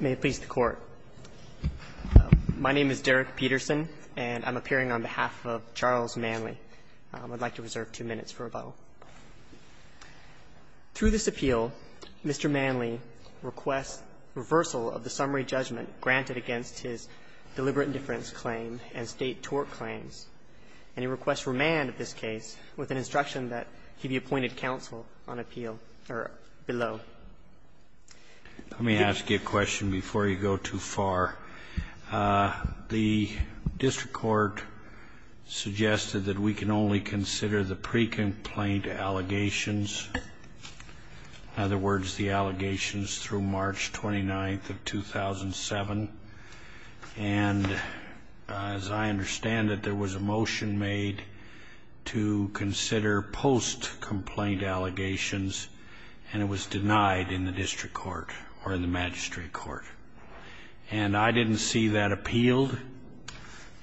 May it please the Court. My name is Derek Peterson, and I'm appearing on behalf of Charles Manley. I'd like to reserve two minutes for rebuttal. Through this appeal, Mr. Manley requests reversal of the summary judgment granted against his deliberate indifference claim and state tort claims, and he requests remand of this case with an instruction that he be appointed counsel on appeal or below. Let me ask you a question before you go too far. The district court suggested that we can only consider the pre-complaint allegations, in other words, the allegations through March 29th of 2007, and as I understand it, there was a motion made to consider post-complaint allegations, and it was denied in the district court or the magistrate court. And I didn't see that appealed,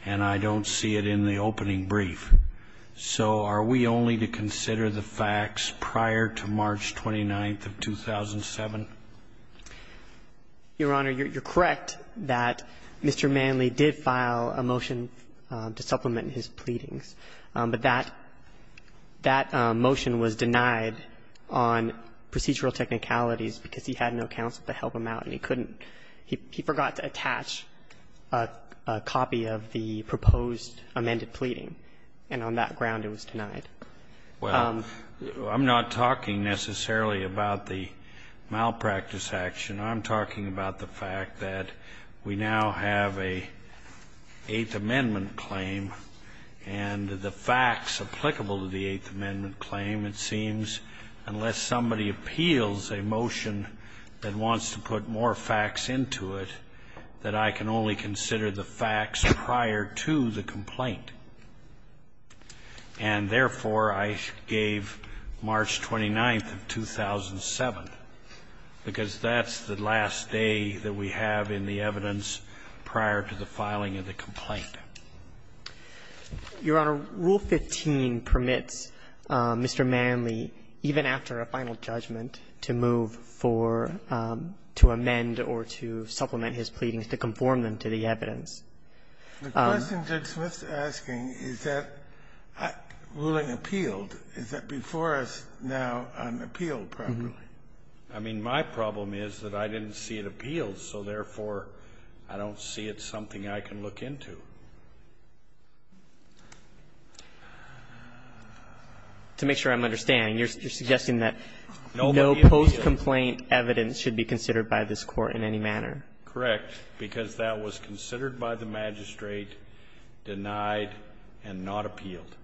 and I don't see it in the opening brief. So are we only to consider the facts prior to March 29th of 2007? Your Honor, you're correct that Mr. Manley did file a motion to supplement his pleadings. But that motion was denied on procedural technicalities because he had no counsel to help him out, and he couldn't – he forgot to attach a copy of the proposed amended pleading, and on that ground it was denied. Well, I'm not talking necessarily about the malpractice action. I'm talking about the fact that we now have an Eighth Amendment claim, and it's the facts applicable to the Eighth Amendment claim, it seems, unless somebody appeals a motion that wants to put more facts into it, that I can only consider the facts prior to the complaint. And therefore, I gave March 29th of 2007, because that's the last day that we have in the evidence prior to the filing of the complaint. Your Honor, Rule 15 permits Mr. Manley, even after a final judgment, to move for – to amend or to supplement his pleadings, to conform them to the evidence. The question Judge Smith's asking is that ruling appealed, is that before us now unappealed properly. I mean, my problem is that I didn't see it appealed, so therefore, I don't see it's something I can look into. To make sure I'm understanding, you're suggesting that no post-complaint evidence should be considered by this Court in any manner? Correct, because that was considered by the magistrate, denied, and not appealed.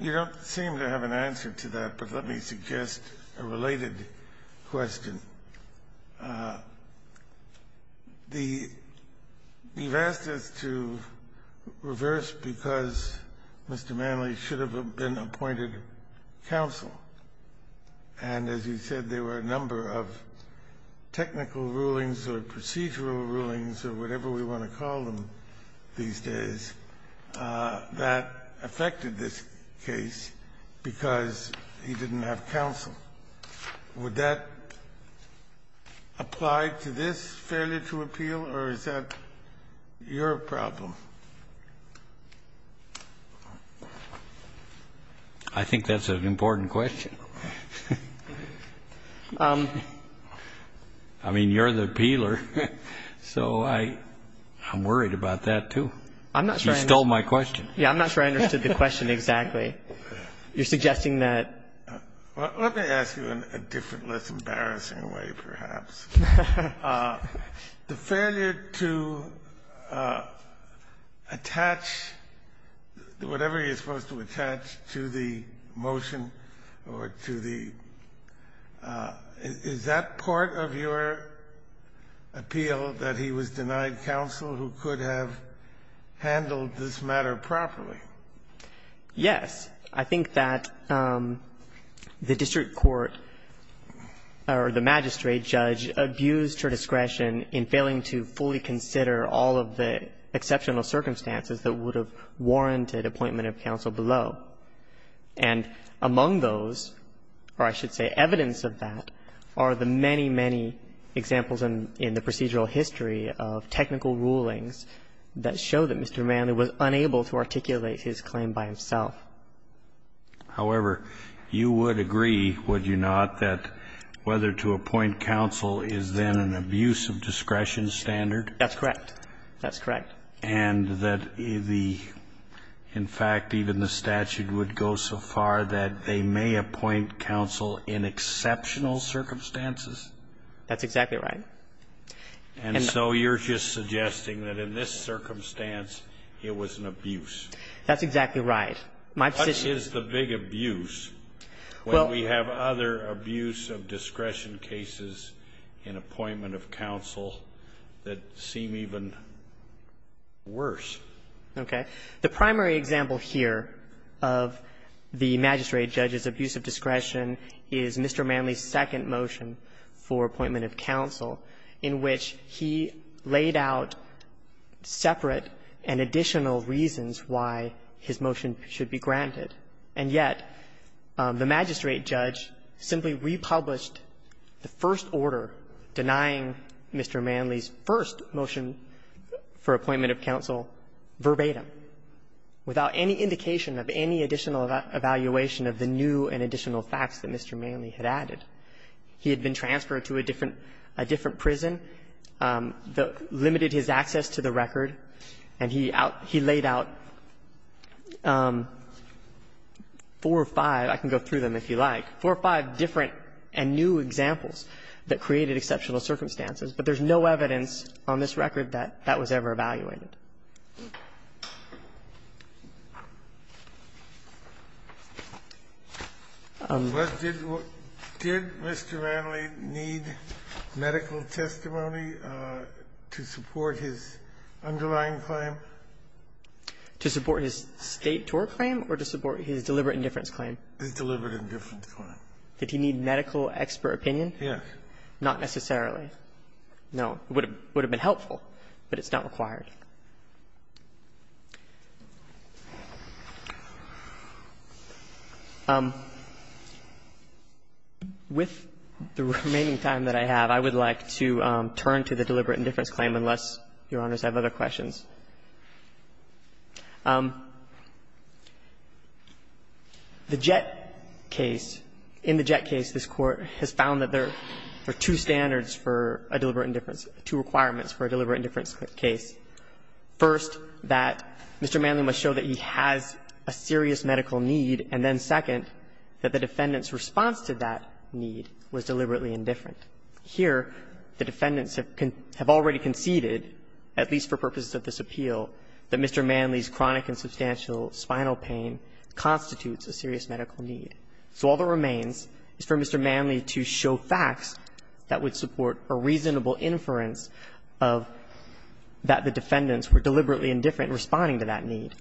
You don't seem to have an answer to that, but let me suggest a related question. The – you've asked us to reverse because Mr. Manley should have been appointed counsel. And as you said, there were a number of technical rulings or procedural rulings or whatever we want to call them these days that affected this case because he didn't have counsel. Would that apply to this failure to appeal, or is that your problem? I think that's an important question. I mean, you're the appealer, so I'm worried about that, too. I'm not sure I understood the question exactly. Anyway, you're suggesting that – Well, let me ask you in a different, less embarrassing way, perhaps. The failure to attach whatever you're supposed to attach to the motion or to the – is that part of your appeal, that he was denied counsel who could have handled this matter properly? Yes. I think that the district court or the magistrate judge abused her discretion in failing to fully consider all of the exceptional circumstances that would have warranted appointment of counsel below. And among those, or I should say evidence of that, are the many, many examples in the procedural history of technical rulings that show that Mr. Manley was unable to articulate his claim by himself. However, you would agree, would you not, that whether to appoint counsel is then an abuse of discretion standard? That's correct. That's correct. And that the – in fact, even the statute would go so far that they may appoint counsel in exceptional circumstances? That's exactly right. And so you're just suggesting that in this circumstance, it was an abuse. That's exactly right. My position is the big abuse. Well, we have other abuse of discretion cases in appointment of counsel that seem even worse. Okay. The primary example here of the magistrate judge's abuse of discretion is Mr. Manley's second motion for appointment of counsel, in which he laid out separate and additional reasons why his motion should be granted. And yet, the magistrate judge simply republished the first order denying Mr. Manley's first motion for appointment of counsel verbatim, without any indication of any additional evaluation of the new and additional facts that Mr. Manley had added. He had been transferred to a different prison, limited his access to the record, and he laid out four or five – I can go through them if you like – four or five different and new examples that created exceptional circumstances. But there's no evidence on this record that that was ever evaluated. Did Mr. Manley need medical testimony to support his underlying claim? To support his State tour claim or to support his deliberate indifference claim? His deliberate indifference claim. Did he need medical expert opinion? Yes. Not necessarily. No. It would have been helpful, but it's not required. With the remaining time that I have, I would like to turn to the deliberate indifference claim, unless Your Honors have other questions. The Jett case, in the Jett case, this Court has found that there are two standards for a deliberate indifference, two requirements for a deliberate indifference case. First, that Mr. Manley must show that he has a serious medical need, and then second, that the defendant's response to that need was deliberately indifferent. Here, the defendants have already conceded, at least for purposes of this appeal, that Mr. Manley's chronic and substantial spinal pain constitutes a serious medical need. So all that remains is for Mr. Manley to show facts that would support a reasonable inference of that the defendants were deliberately indifferent in responding to that need.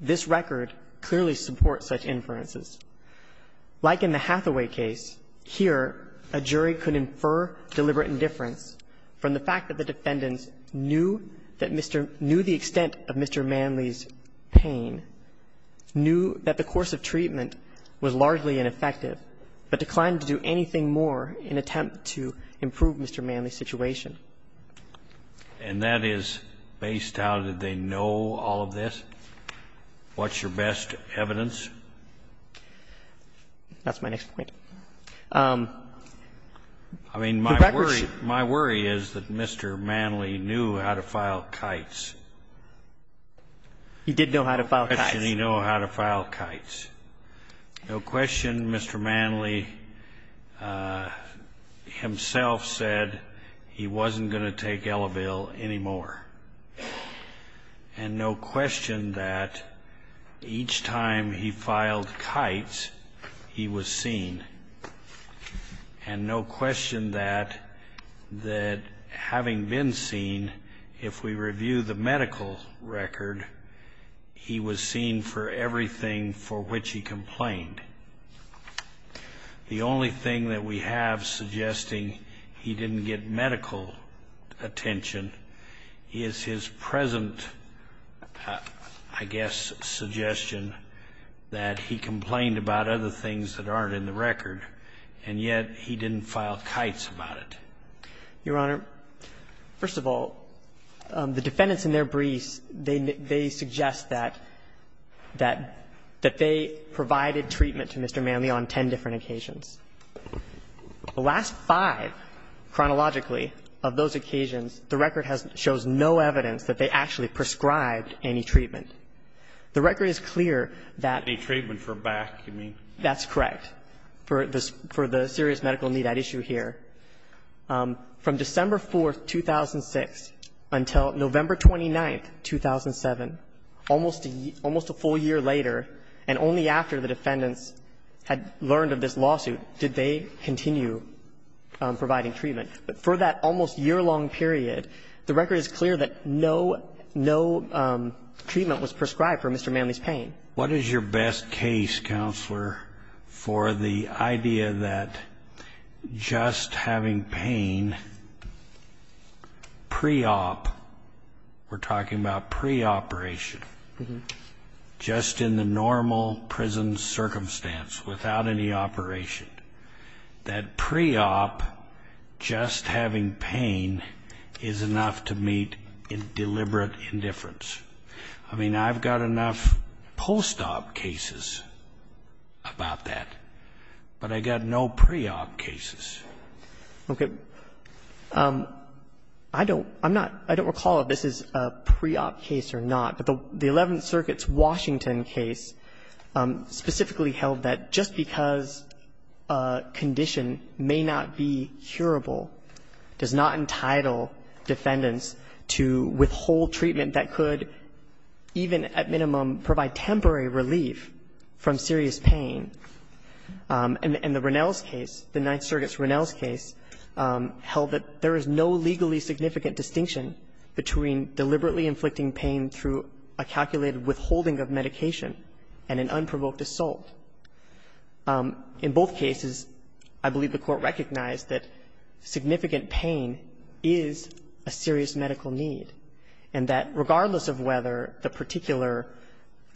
This record clearly supports such inferences. Like in the Hathaway case, here a jury could infer deliberate indifference from the fact that the defendants knew that Mr. — knew the extent of Mr. Manley's pain, knew that the course of treatment was largely ineffective, but declined to do anything more in attempt to improve Mr. Manley's situation. And that is based on, did they know all of this? What's your best evidence? That's my next point. I mean, my worry is that Mr. Manley knew how to file kites. He did know how to file kites. He did know how to file kites. No question Mr. Manley himself said he wasn't going to take Elevelle anymore. And no question that each time he filed kites, he was seen. And no question that having been seen, if we review the medical record, he was seen for everything for which he complained. The only thing that we have suggesting he didn't get medical attention is his present, I guess, suggestion that he complained about other things that aren't in the record, and yet he didn't file kites about it. Your Honor, first of all, the defendants in their briefs, they suggest that they provided treatment to Mr. Manley on ten different occasions. The last five, chronologically, of those occasions, the record shows no evidence that they actually prescribed any treatment. The record is clear that the treatment for back, you mean. That's correct, for the serious medical need at issue here. From December 4th, 2006 until November 29th, 2007, almost a full year later, and only after the defendants had learned of this lawsuit, did they continue providing treatment. But for that almost year-long period, the record is clear that no treatment was prescribed for Mr. Manley's pain. What is your best case, Counselor, for the idea that just having pain pre-op, we're talking about pre-operation, just in the normal prison circumstance without any operation, that pre-op, just having pain, is enough to meet deliberate indifference? I mean, I've got enough post-op cases about that, but I've got no pre-op cases. Okay. I don't recall if this is a pre-op case or not, but the Eleventh Circuit's Washington case specifically held that just because a condition may not be curable does not entitle defendants to withhold treatment that could even at minimum provide temporary relief from serious pain. And the Ronell's case, the Ninth Circuit's Ronell's case, held that there is no legally significant distinction between deliberately inflicting pain through a calculated withholding of medication and an unprovoked assault. In both cases, I believe the Court recognized that significant pain is a serious medical need, and that regardless of whether the particular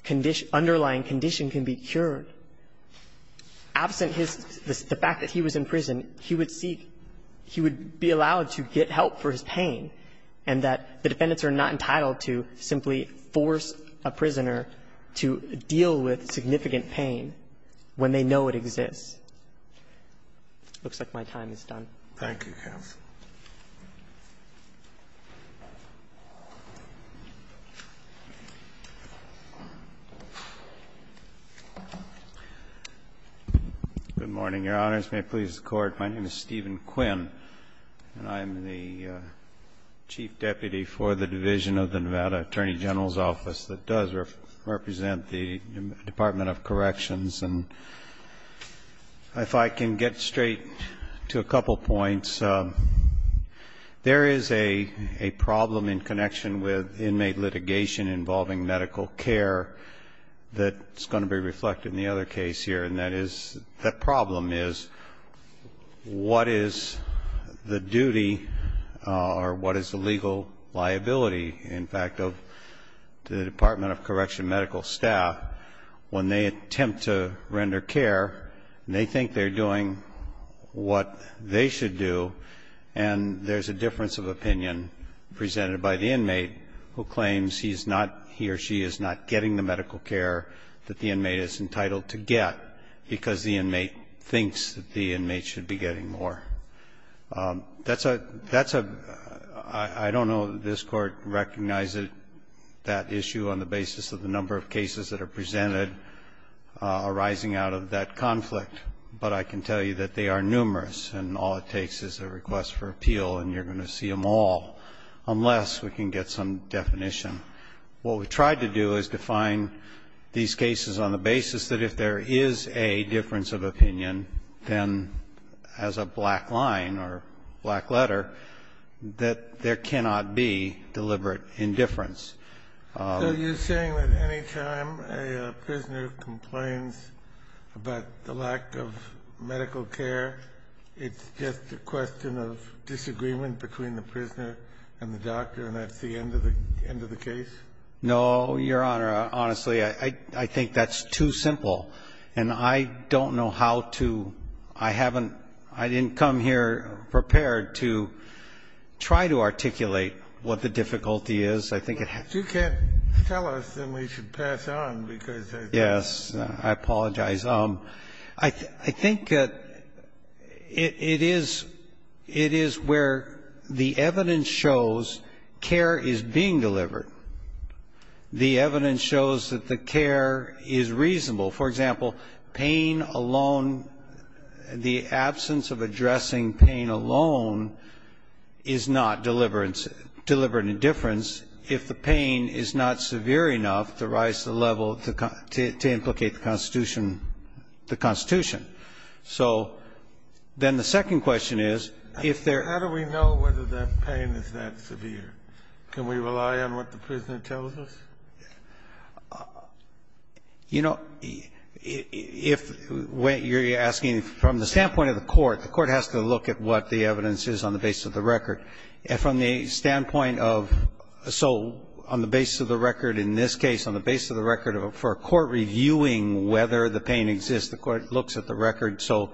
condition, underlying condition can be cured, absent his, the fact that he was in prison, he would seek, he would be allowed to get help for his pain, and that the defendants are not entitled to simply force a prisoner to deal with significant pain when they know it exists. It looks like my time is done. Thank you, counsel. Good morning, Your Honors. May it please the Court. My name is Stephen Quinn, and I'm the Chief Deputy for the Division of the Nevada Attorney General's Office that does represent the Department of Corrections. And if I can get straight to a couple points, there is a problem in connection with inmate litigation involving medical care that's going to be reflected in the other case here, and that is, the problem is, what is the duty or what is the legal liability in fact of the Department of Correction medical staff when they attempt to render care, and they think they're doing what they should do, and there's a difference of opinion presented by the inmate who claims he's not, he or she is not getting the medical care that the inmate is entitled to get, because the inmate thinks that the inmate should be getting more. I don't know that this Court recognizes that issue on the basis of the number of cases that are presented arising out of that conflict, but I can tell you that they are numerous, and all it takes is a request for appeal, and you're going to see them all, unless we can get some definition. What we tried to do is define these cases on the basis that if there is a difference of opinion, then as a black line or black letter, that there cannot be deliberate indifference. Kennedy. So you're saying that any time a prisoner complains about the lack of medical care, it's just a question of disagreement between the prisoner and the doctor, and that's the end of the case? No, Your Honor. Honestly, I think that's too simple, and I don't know how to ‑‑ I haven't ‑‑ I didn't come here prepared to try to articulate what the difficulty is. I think it has to be ‑‑ If you can't tell us, then we should pass on, because I think ‑‑ If the care is being delivered, the evidence shows that the care is reasonable. For example, pain alone, the absence of addressing pain alone is not deliberate indifference if the pain is not severe enough to rise to the level, to implicate the Constitution. So then the second question is, if there ‑‑ Can we rely on what the prisoner tells us? You know, if you're asking from the standpoint of the court, the court has to look at what the evidence is on the basis of the record. And from the standpoint of ‑‑ so on the basis of the record in this case, on the basis of the record for a court reviewing whether the pain exists, the court looks at the record. So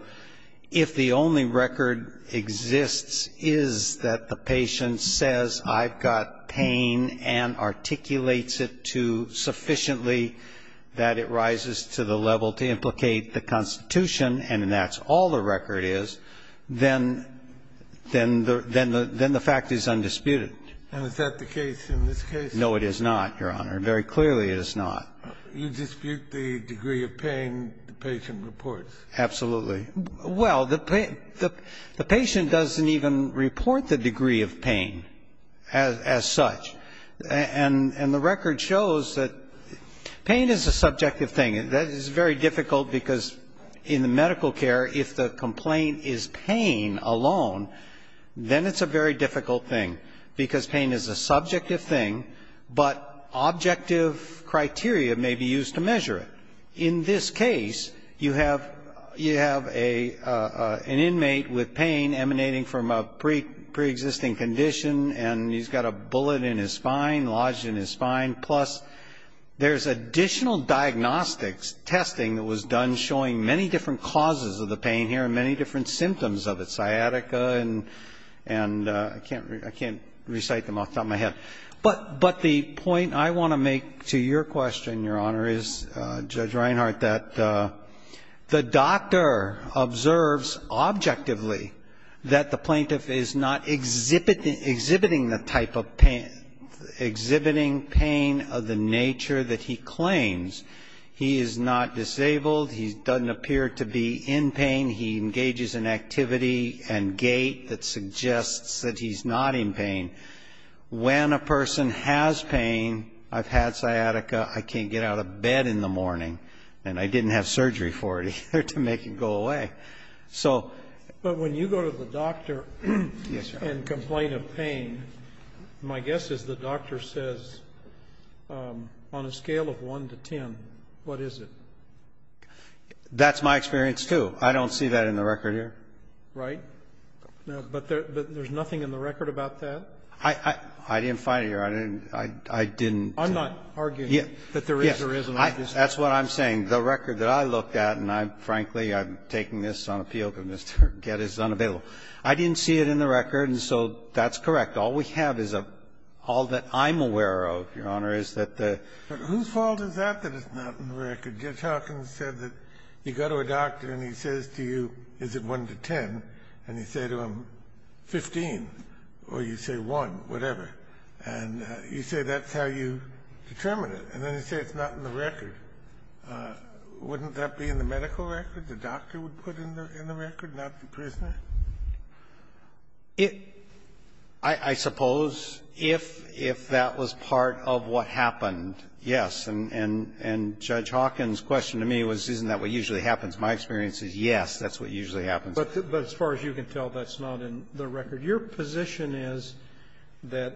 if the only record exists is that the patient says, I've got pain and articulates it to sufficiently that it rises to the level to implicate the Constitution and that's all the record is, then the fact is undisputed. And is that the case in this case? No, it is not, Your Honor. Very clearly it is not. You dispute the degree of pain the patient reports. Absolutely. Well, the patient doesn't even report the degree of pain as such. And the record shows that pain is a subjective thing. That is very difficult, because in the medical care, if the complaint is pain alone, then it's a very difficult thing, because pain is a subjective thing, but objective criteria may be used to measure it. In this case, you have an inmate with pain emanating from a preexisting condition, and he's got a bullet in his spine, lodged in his spine, plus there's additional diagnostics testing that was done showing many different causes of the pain here and many different symptoms of it, sciatica, and I can't recite them off the top of my head. But the point I want to make to your question, Your Honor, is, Judge Reinhart, that the doctor observes objectively that the plaintiff is not exhibiting the type of pain, exhibiting pain of the nature that he claims. He is not disabled. He doesn't appear to be in pain. He engages in activity and gait that suggests that he's not in pain. When a person has pain, I've had sciatica, I can't get out of bed in the morning, and I didn't have surgery for it, either, to make it go away. So But when you go to the doctor and complain of pain, my guess is the doctor says, on a scale of 1 to 10, what is it? That's my experience, too. I don't see that in the record here. Right? But there's nothing in the record about that? I didn't find it here. I didn't. I'm not arguing that there is or isn't. Yes. That's what I'm saying. The record that I looked at, and I'm, frankly, I'm taking this on appeal because Mr. Gett is unavailable. I didn't see it in the record, and so that's correct. All we have is a all that I'm aware of, Your Honor, is that the But whose fault is that, that it's not in the record? Judge Hawkins said that you go to a doctor and he says to you, is it 1 to 10, and you say to him, 15, or you say 1, whatever. And you say that's how you determine it. And then you say it's not in the record. Wouldn't that be in the medical record? The doctor would put it in the record, not the prisoner? I suppose if that was part of what happened, yes. And Judge Hawkins' question to me was, isn't that what usually happens? My experience is, yes, that's what usually happens. But as far as you can tell, that's not in the record. Your position is that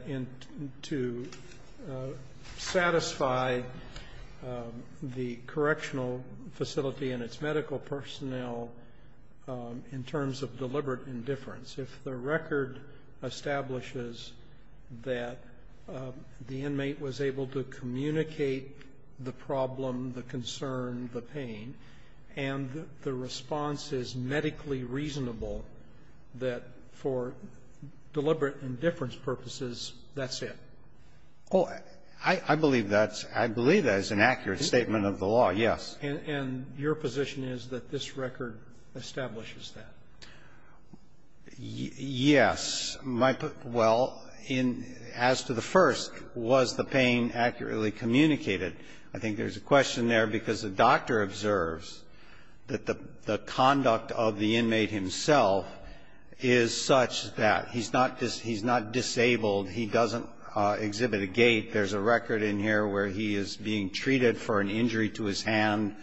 to satisfy the correctional facility and its medical personnel in terms of deliberate indifference, if the record establishes that the inmate was able to communicate the problem, the concern, the pain, and the response is medically reasonable, that for deliberate indifference purposes, that's it? Oh, I believe that's an accurate statement of the law, yes. And your position is that this record establishes that? Yes. Well, in as to the first, was the pain accurately communicated, I think there's a question there because the doctor observes that the conduct of the inmate himself is such that he's not disabled, he doesn't exhibit a gait. There's a record in here where he is being treated for an injury to his hand.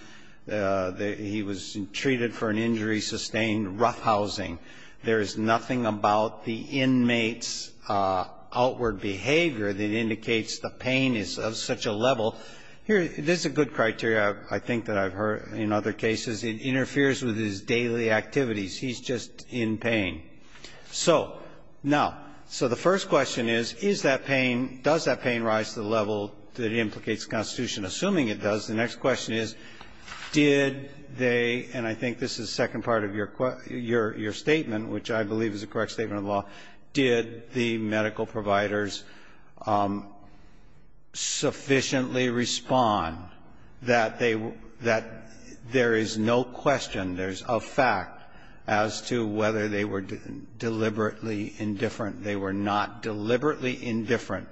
He was treated for an injury sustained roughhousing. There is nothing about the inmate's outward behavior that indicates the pain is of such a level. Here, this is a good criteria I think that I've heard in other cases. It interferes with his daily activities. He's just in pain. So, now, so the first question is, is that pain, does that pain rise to the level that it implicates in the Constitution? Assuming it does, the next question is, did they, and I think this is the second part of your statement, which I believe is the correct statement of the law, did the medical providers sufficiently respond that they were, that there is no question, there's a fact as to whether they were disabled deliberately indifferent. They were not deliberately indifferent.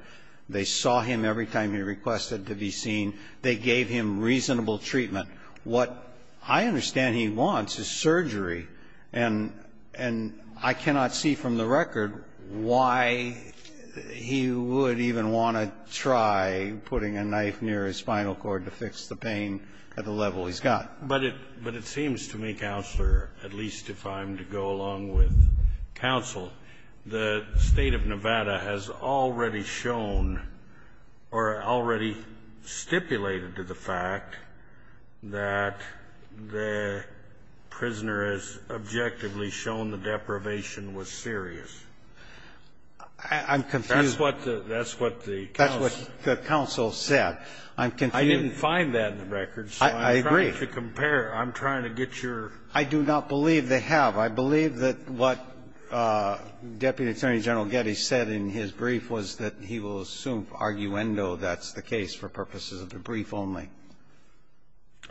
They saw him every time he requested to be seen. They gave him reasonable treatment. What I understand he wants is surgery. And I cannot see from the record why he would even want to try putting a knife near his spinal cord to fix the pain at the level he's got. But it seems to me, Counselor, at least if I'm to go along with counsel, the State of Nevada has already shown or already stipulated to the fact that the prisoner has objectively shown the deprivation was serious. I'm confused. That's what the counsel said. I'm confused. I didn't find that in the records. If you compare, I'm trying to get your ---- I do not believe they have. I believe that what Deputy Attorney General Getty said in his brief was that he will assume for arguendo that's the case for purposes of the brief only.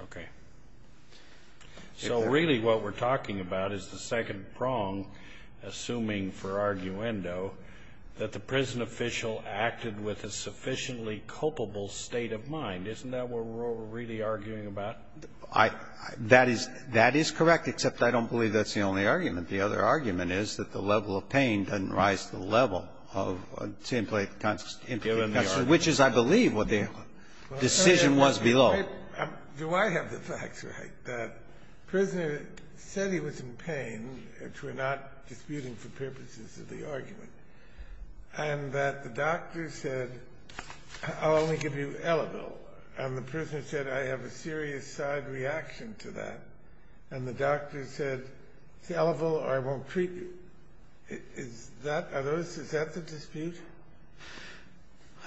Okay. So really what we're talking about is the second prong, assuming for arguendo, that the prison official acted with a sufficiently culpable state of mind. Isn't that what we're really arguing about? I — that is correct, except I don't believe that's the only argument. The other argument is that the level of pain doesn't rise to the level of a template kind of implication. Which is, I believe, what the decision was below. Do I have the facts right that the prisoner said he was in pain, which we're not disputing for purposes of the argument, and that the doctor said, I'll only give you Elliville, and the prisoner said, I have a serious side reaction to that, and the doctor said, it's Elliville or I won't treat you? Is that — are those — is that the dispute?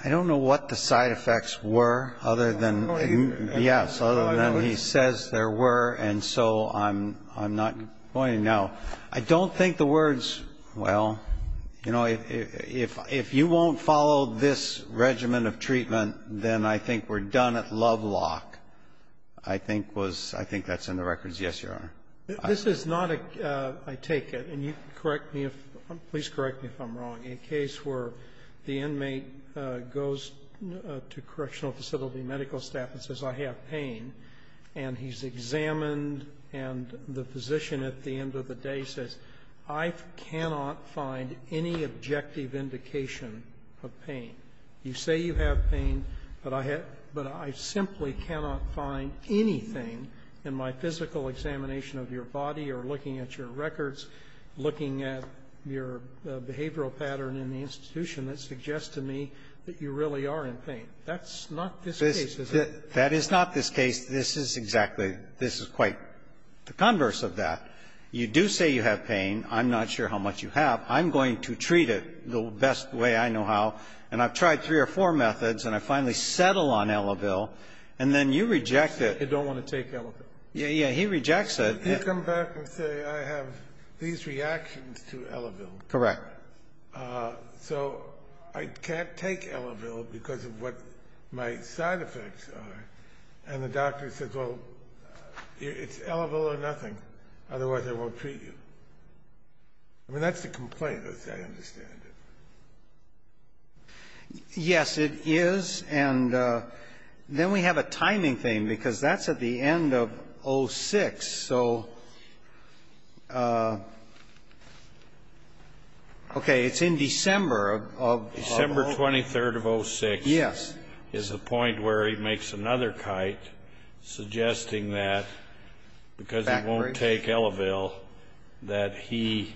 I don't know what the side effects were, other than — Oh, I know it. Yes, other than he says there were, and so I'm not going to know. I don't think the words, well, you know, if you won't follow this regimen of treatment, then I think we're done at Lovelock, I think was — I think that's in the records. Yes, Your Honor. This is not a — I take it, and you can correct me if — please correct me if I'm wrong — a case where the inmate goes to correctional facility medical staff and says, I have pain, and he's examined, and the physician at the end of the day says, I cannot find any objective indication of pain. You say you have pain, but I have — but I simply cannot find anything in my physical examination of your body or looking at your records, looking at your behavioral pattern in the institution that suggests to me that you really are in pain. That's not this case, is it? That is not this case. This is exactly — this is quite the converse of that. You do say you have pain. I'm not sure how much you have. I'm going to treat it the best way I know how, and I've tried three or four methods, and I finally settle on Elavil, and then you reject it. I don't want to take Elavil. Yeah, yeah. He rejects it. You come back and say, I have these reactions to Elavil. Correct. So I can't take Elavil because of what my side effects are, and the doctor says, well, it's Elavil or nothing, otherwise I won't treat you. I mean, that's the complaint, as I understand it. Yes, it is, and then we have a timing thing, because that's at the end of 06. So, okay, it's in December of — December 23rd of 06 — Yes. — is the point where he makes another kite, suggesting that, because he won't take Elavil, that he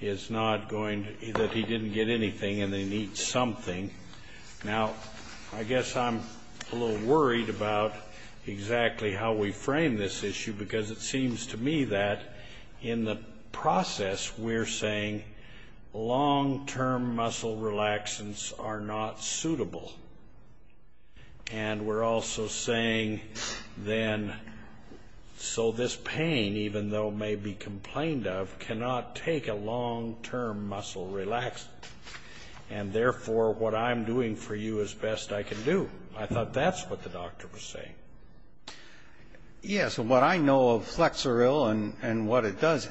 is not going to — that he didn't get anything, and they need something. Now, I guess I'm a little worried about exactly how we frame this issue, because it seems to me that, in the process, we're saying long-term muscle relaxants are not suitable, and we're also saying then, so this pain, even though it may be complained of, cannot take a long-term muscle relaxant, and therefore, what I'm doing for you is best I can do. I thought that's what the doctor was saying. Yes, and what I know of Flexoril and what it does,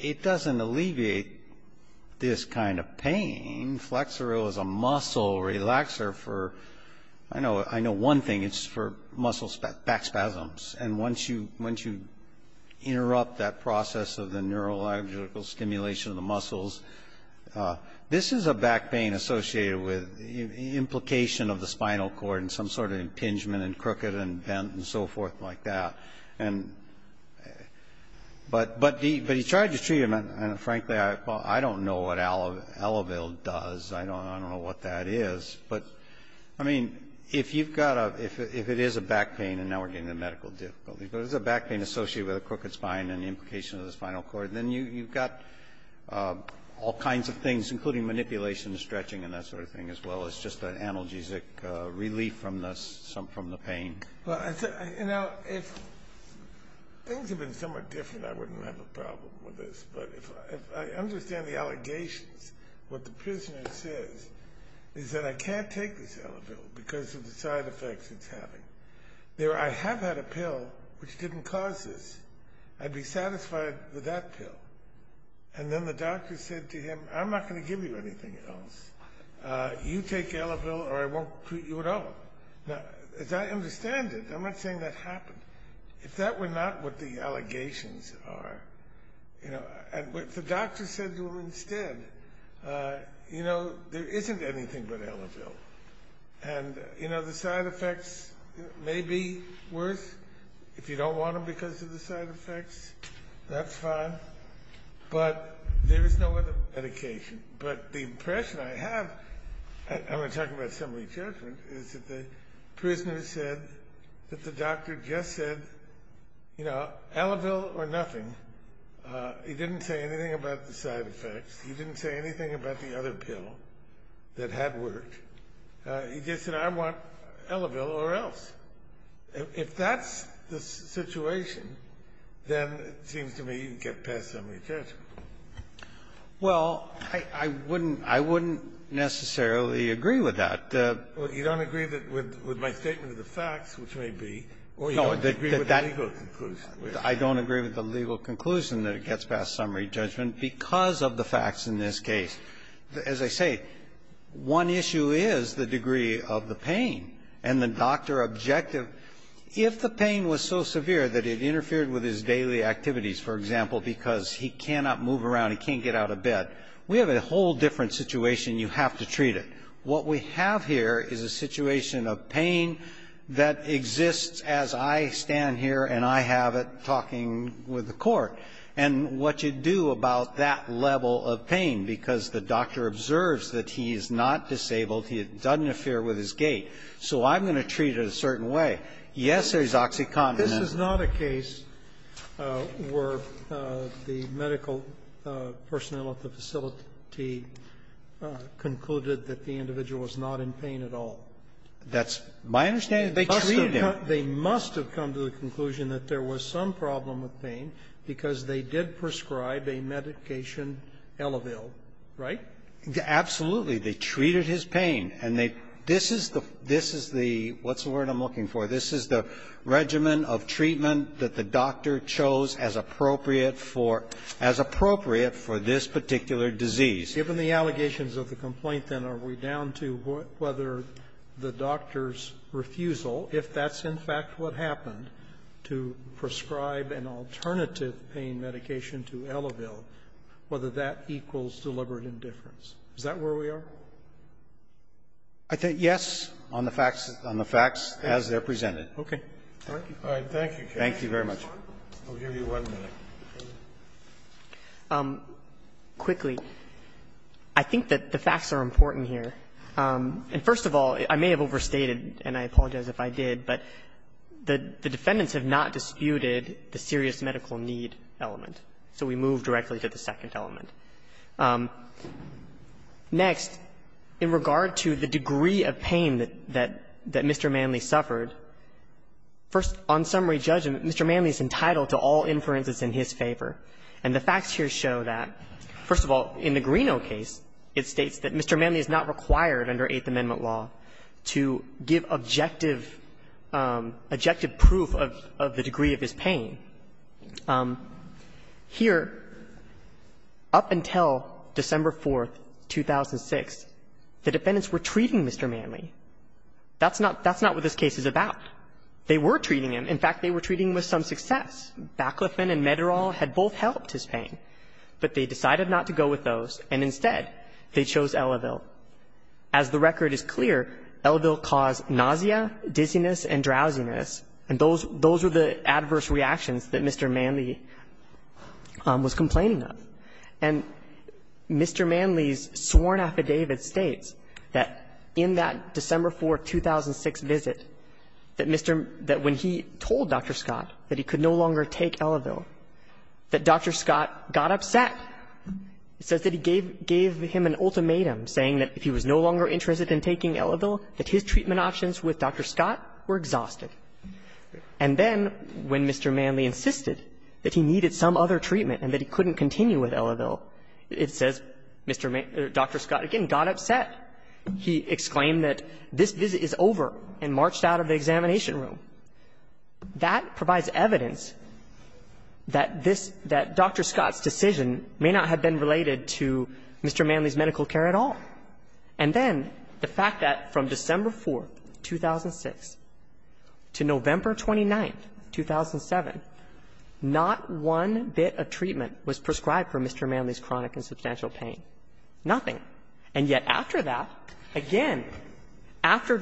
it doesn't alleviate this kind of pain. Flexoril is a muscle relaxer for — I know one thing, it's for muscle back spasms, and once you interrupt that process of the neurological stimulation of the muscles, this is a back pain associated with implication of the spinal cord and some sort of impingement and crooked and bent and so forth like that. But he tried the treatment, and frankly, I don't know what Elavil does, I don't know what that is. But, I mean, if you've got a — if it is a back pain, and now we're getting into medical difficulties, but it's a back pain associated with a crooked spine and implication of the spinal cord, then you've got all kinds of things, including manipulation and stretching and that sort of thing, as well as just an analgesic relief from the pain. Well, you know, if things had been somewhat different, I wouldn't have a problem with this. But if I understand the allegations, what the prisoner says is that I can't take this Elavil because of the side effects it's having. There, I have had a pill which didn't cause this. I'd be satisfied with that pill. And then the doctor said to him, I'm not going to give you anything else. You take Elavil or I won't treat you at all. Now, as I understand it, I'm not saying that happened. If that were not what the allegations are, you know, and the doctor said to him instead, you know, there isn't anything but Elavil. And, you know, the side effects may be worse if you don't want them because of the side effects. That's fine. But there is no other medication. But the impression I have, and we're talking about assembly judgment, is that the prisoner said that the doctor just said, you know, Elavil or nothing. He didn't say anything about the side effects. He didn't say anything about the other pill that had worked. He just said, I want Elavil or else. If that's the situation, then it seems to me you can get past assembly judgment. Well, I wouldn't necessarily agree with that. You don't agree with my statement of the facts, which may be, or you don't agree with the legal conclusion. I don't agree with the legal conclusion that it gets past assembly judgment because of the facts in this case. As I say, one issue is the degree of the pain and the doctor objective. If the pain was so severe that it interfered with his daily activities, for example, because he cannot move around, he can't get out of bed, we have a whole different situation, you have to treat it. What we have here is a situation of pain that exists as I stand here and I have it talking with the Court. And what you do about that level of pain, because the doctor observes that he is not disabled, he doesn't interfere with his gait, so I'm going to treat it a certain way, yes, there's oxycontin in it. Sotomayor, this is not a case where the medical personnel at the facility concluded that the individual was not in pain at all. That's my understanding. They treated him. They must have come to the conclusion that there was some problem with pain because they did prescribe a medication, Elevelle, right? Absolutely. They treated his pain. And they this is the this is the what's the word I'm looking for. This is the regimen of treatment that the doctor chose as appropriate for as appropriate for this particular disease. Given the allegations of the complaint, then, are we down to whether the doctor's refusal, if that's in fact what happened, to prescribe an alternative pain medication to Elevelle, whether that equals deliberate indifference? Is that where we are? I think yes, on the facts as they're presented. Okay. Thank you. All right. Thank you, counsel. Thank you very much. I'll give you one minute. Quickly, I think that the facts are important here. And first of all, I may have overstated, and I apologize if I did, but the defendants have not disputed the serious medical need element, so we move directly to the second element. Next, in regard to the degree of pain that Mr. Manley suffered, first, on summary judgment, Mr. Manley is entitled to all inferences in his favor. And the facts here show that, first of all, in the Greeno case, it states that Mr. Manley is not required under Eighth Amendment law to give objective proof of the degree of his pain. Here, up until December 4th, 2006, the defendants were treating Mr. Manley. That's not what this case is about. They were treating him. In fact, they were treating him with some success. Baclofen and Mederol had both helped his pain, but they decided not to go with those, and instead they chose Elevelle. As the record is clear, Elevelle caused nausea, dizziness and drowsiness, and those were the adverse reactions that Mr. Manley was complaining of. And Mr. Manley's sworn affidavit states that in that December 4th, 2006 visit, that Mr. — that when he told Dr. Scott that he could no longer take Elevelle, that Dr. Scott got upset. It says that he gave him an ultimatum saying that if he was no longer interested in taking Elevelle, that his treatment options with Dr. Scott were exhausted. And then when Mr. Manley insisted that he needed some other treatment and that he couldn't continue with Elevelle, it says Dr. Scott again got upset. He exclaimed that this visit is over and marched out of the examination room. That provides evidence that this — that Dr. Scott's decision may not have been related to Mr. Manley's medical care at all. And then the fact that from December 4th, 2006 to November 29th, 2007, not one bit of treatment was prescribed for Mr. Manley's chronic and substantial pain. Nothing. And yet after that, again, after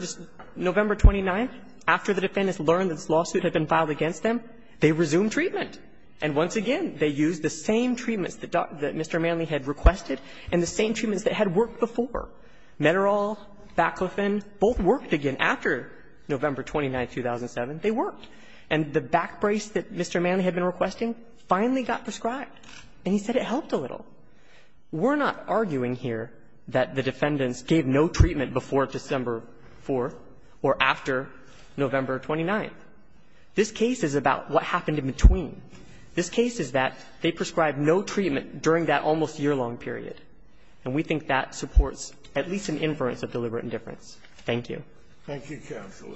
November 29th, after the defendants learned that this lawsuit had been filed against them, they resumed treatment. And once again, they used the same treatments that Dr. — that Mr. Manley had requested and the same treatments that had worked before. Mederol, Baclofen both worked again. After November 29th, 2007, they worked. And the back brace that Mr. Manley had been requesting finally got prescribed. And he said it helped a little. We're not arguing here that the defendants gave no treatment before December 4th or after November 29th. This case is about what happened in between. This case is that they prescribed no treatment during that almost yearlong period. And we think that supports at least an inference of deliberate indifference. Thank you. Thank you, counsel.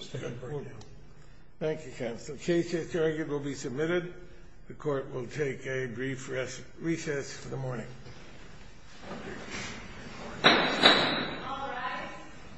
Thank you, counsel. The case is adjourned. It will be submitted. The Court will take a brief recess for the morning. All rise.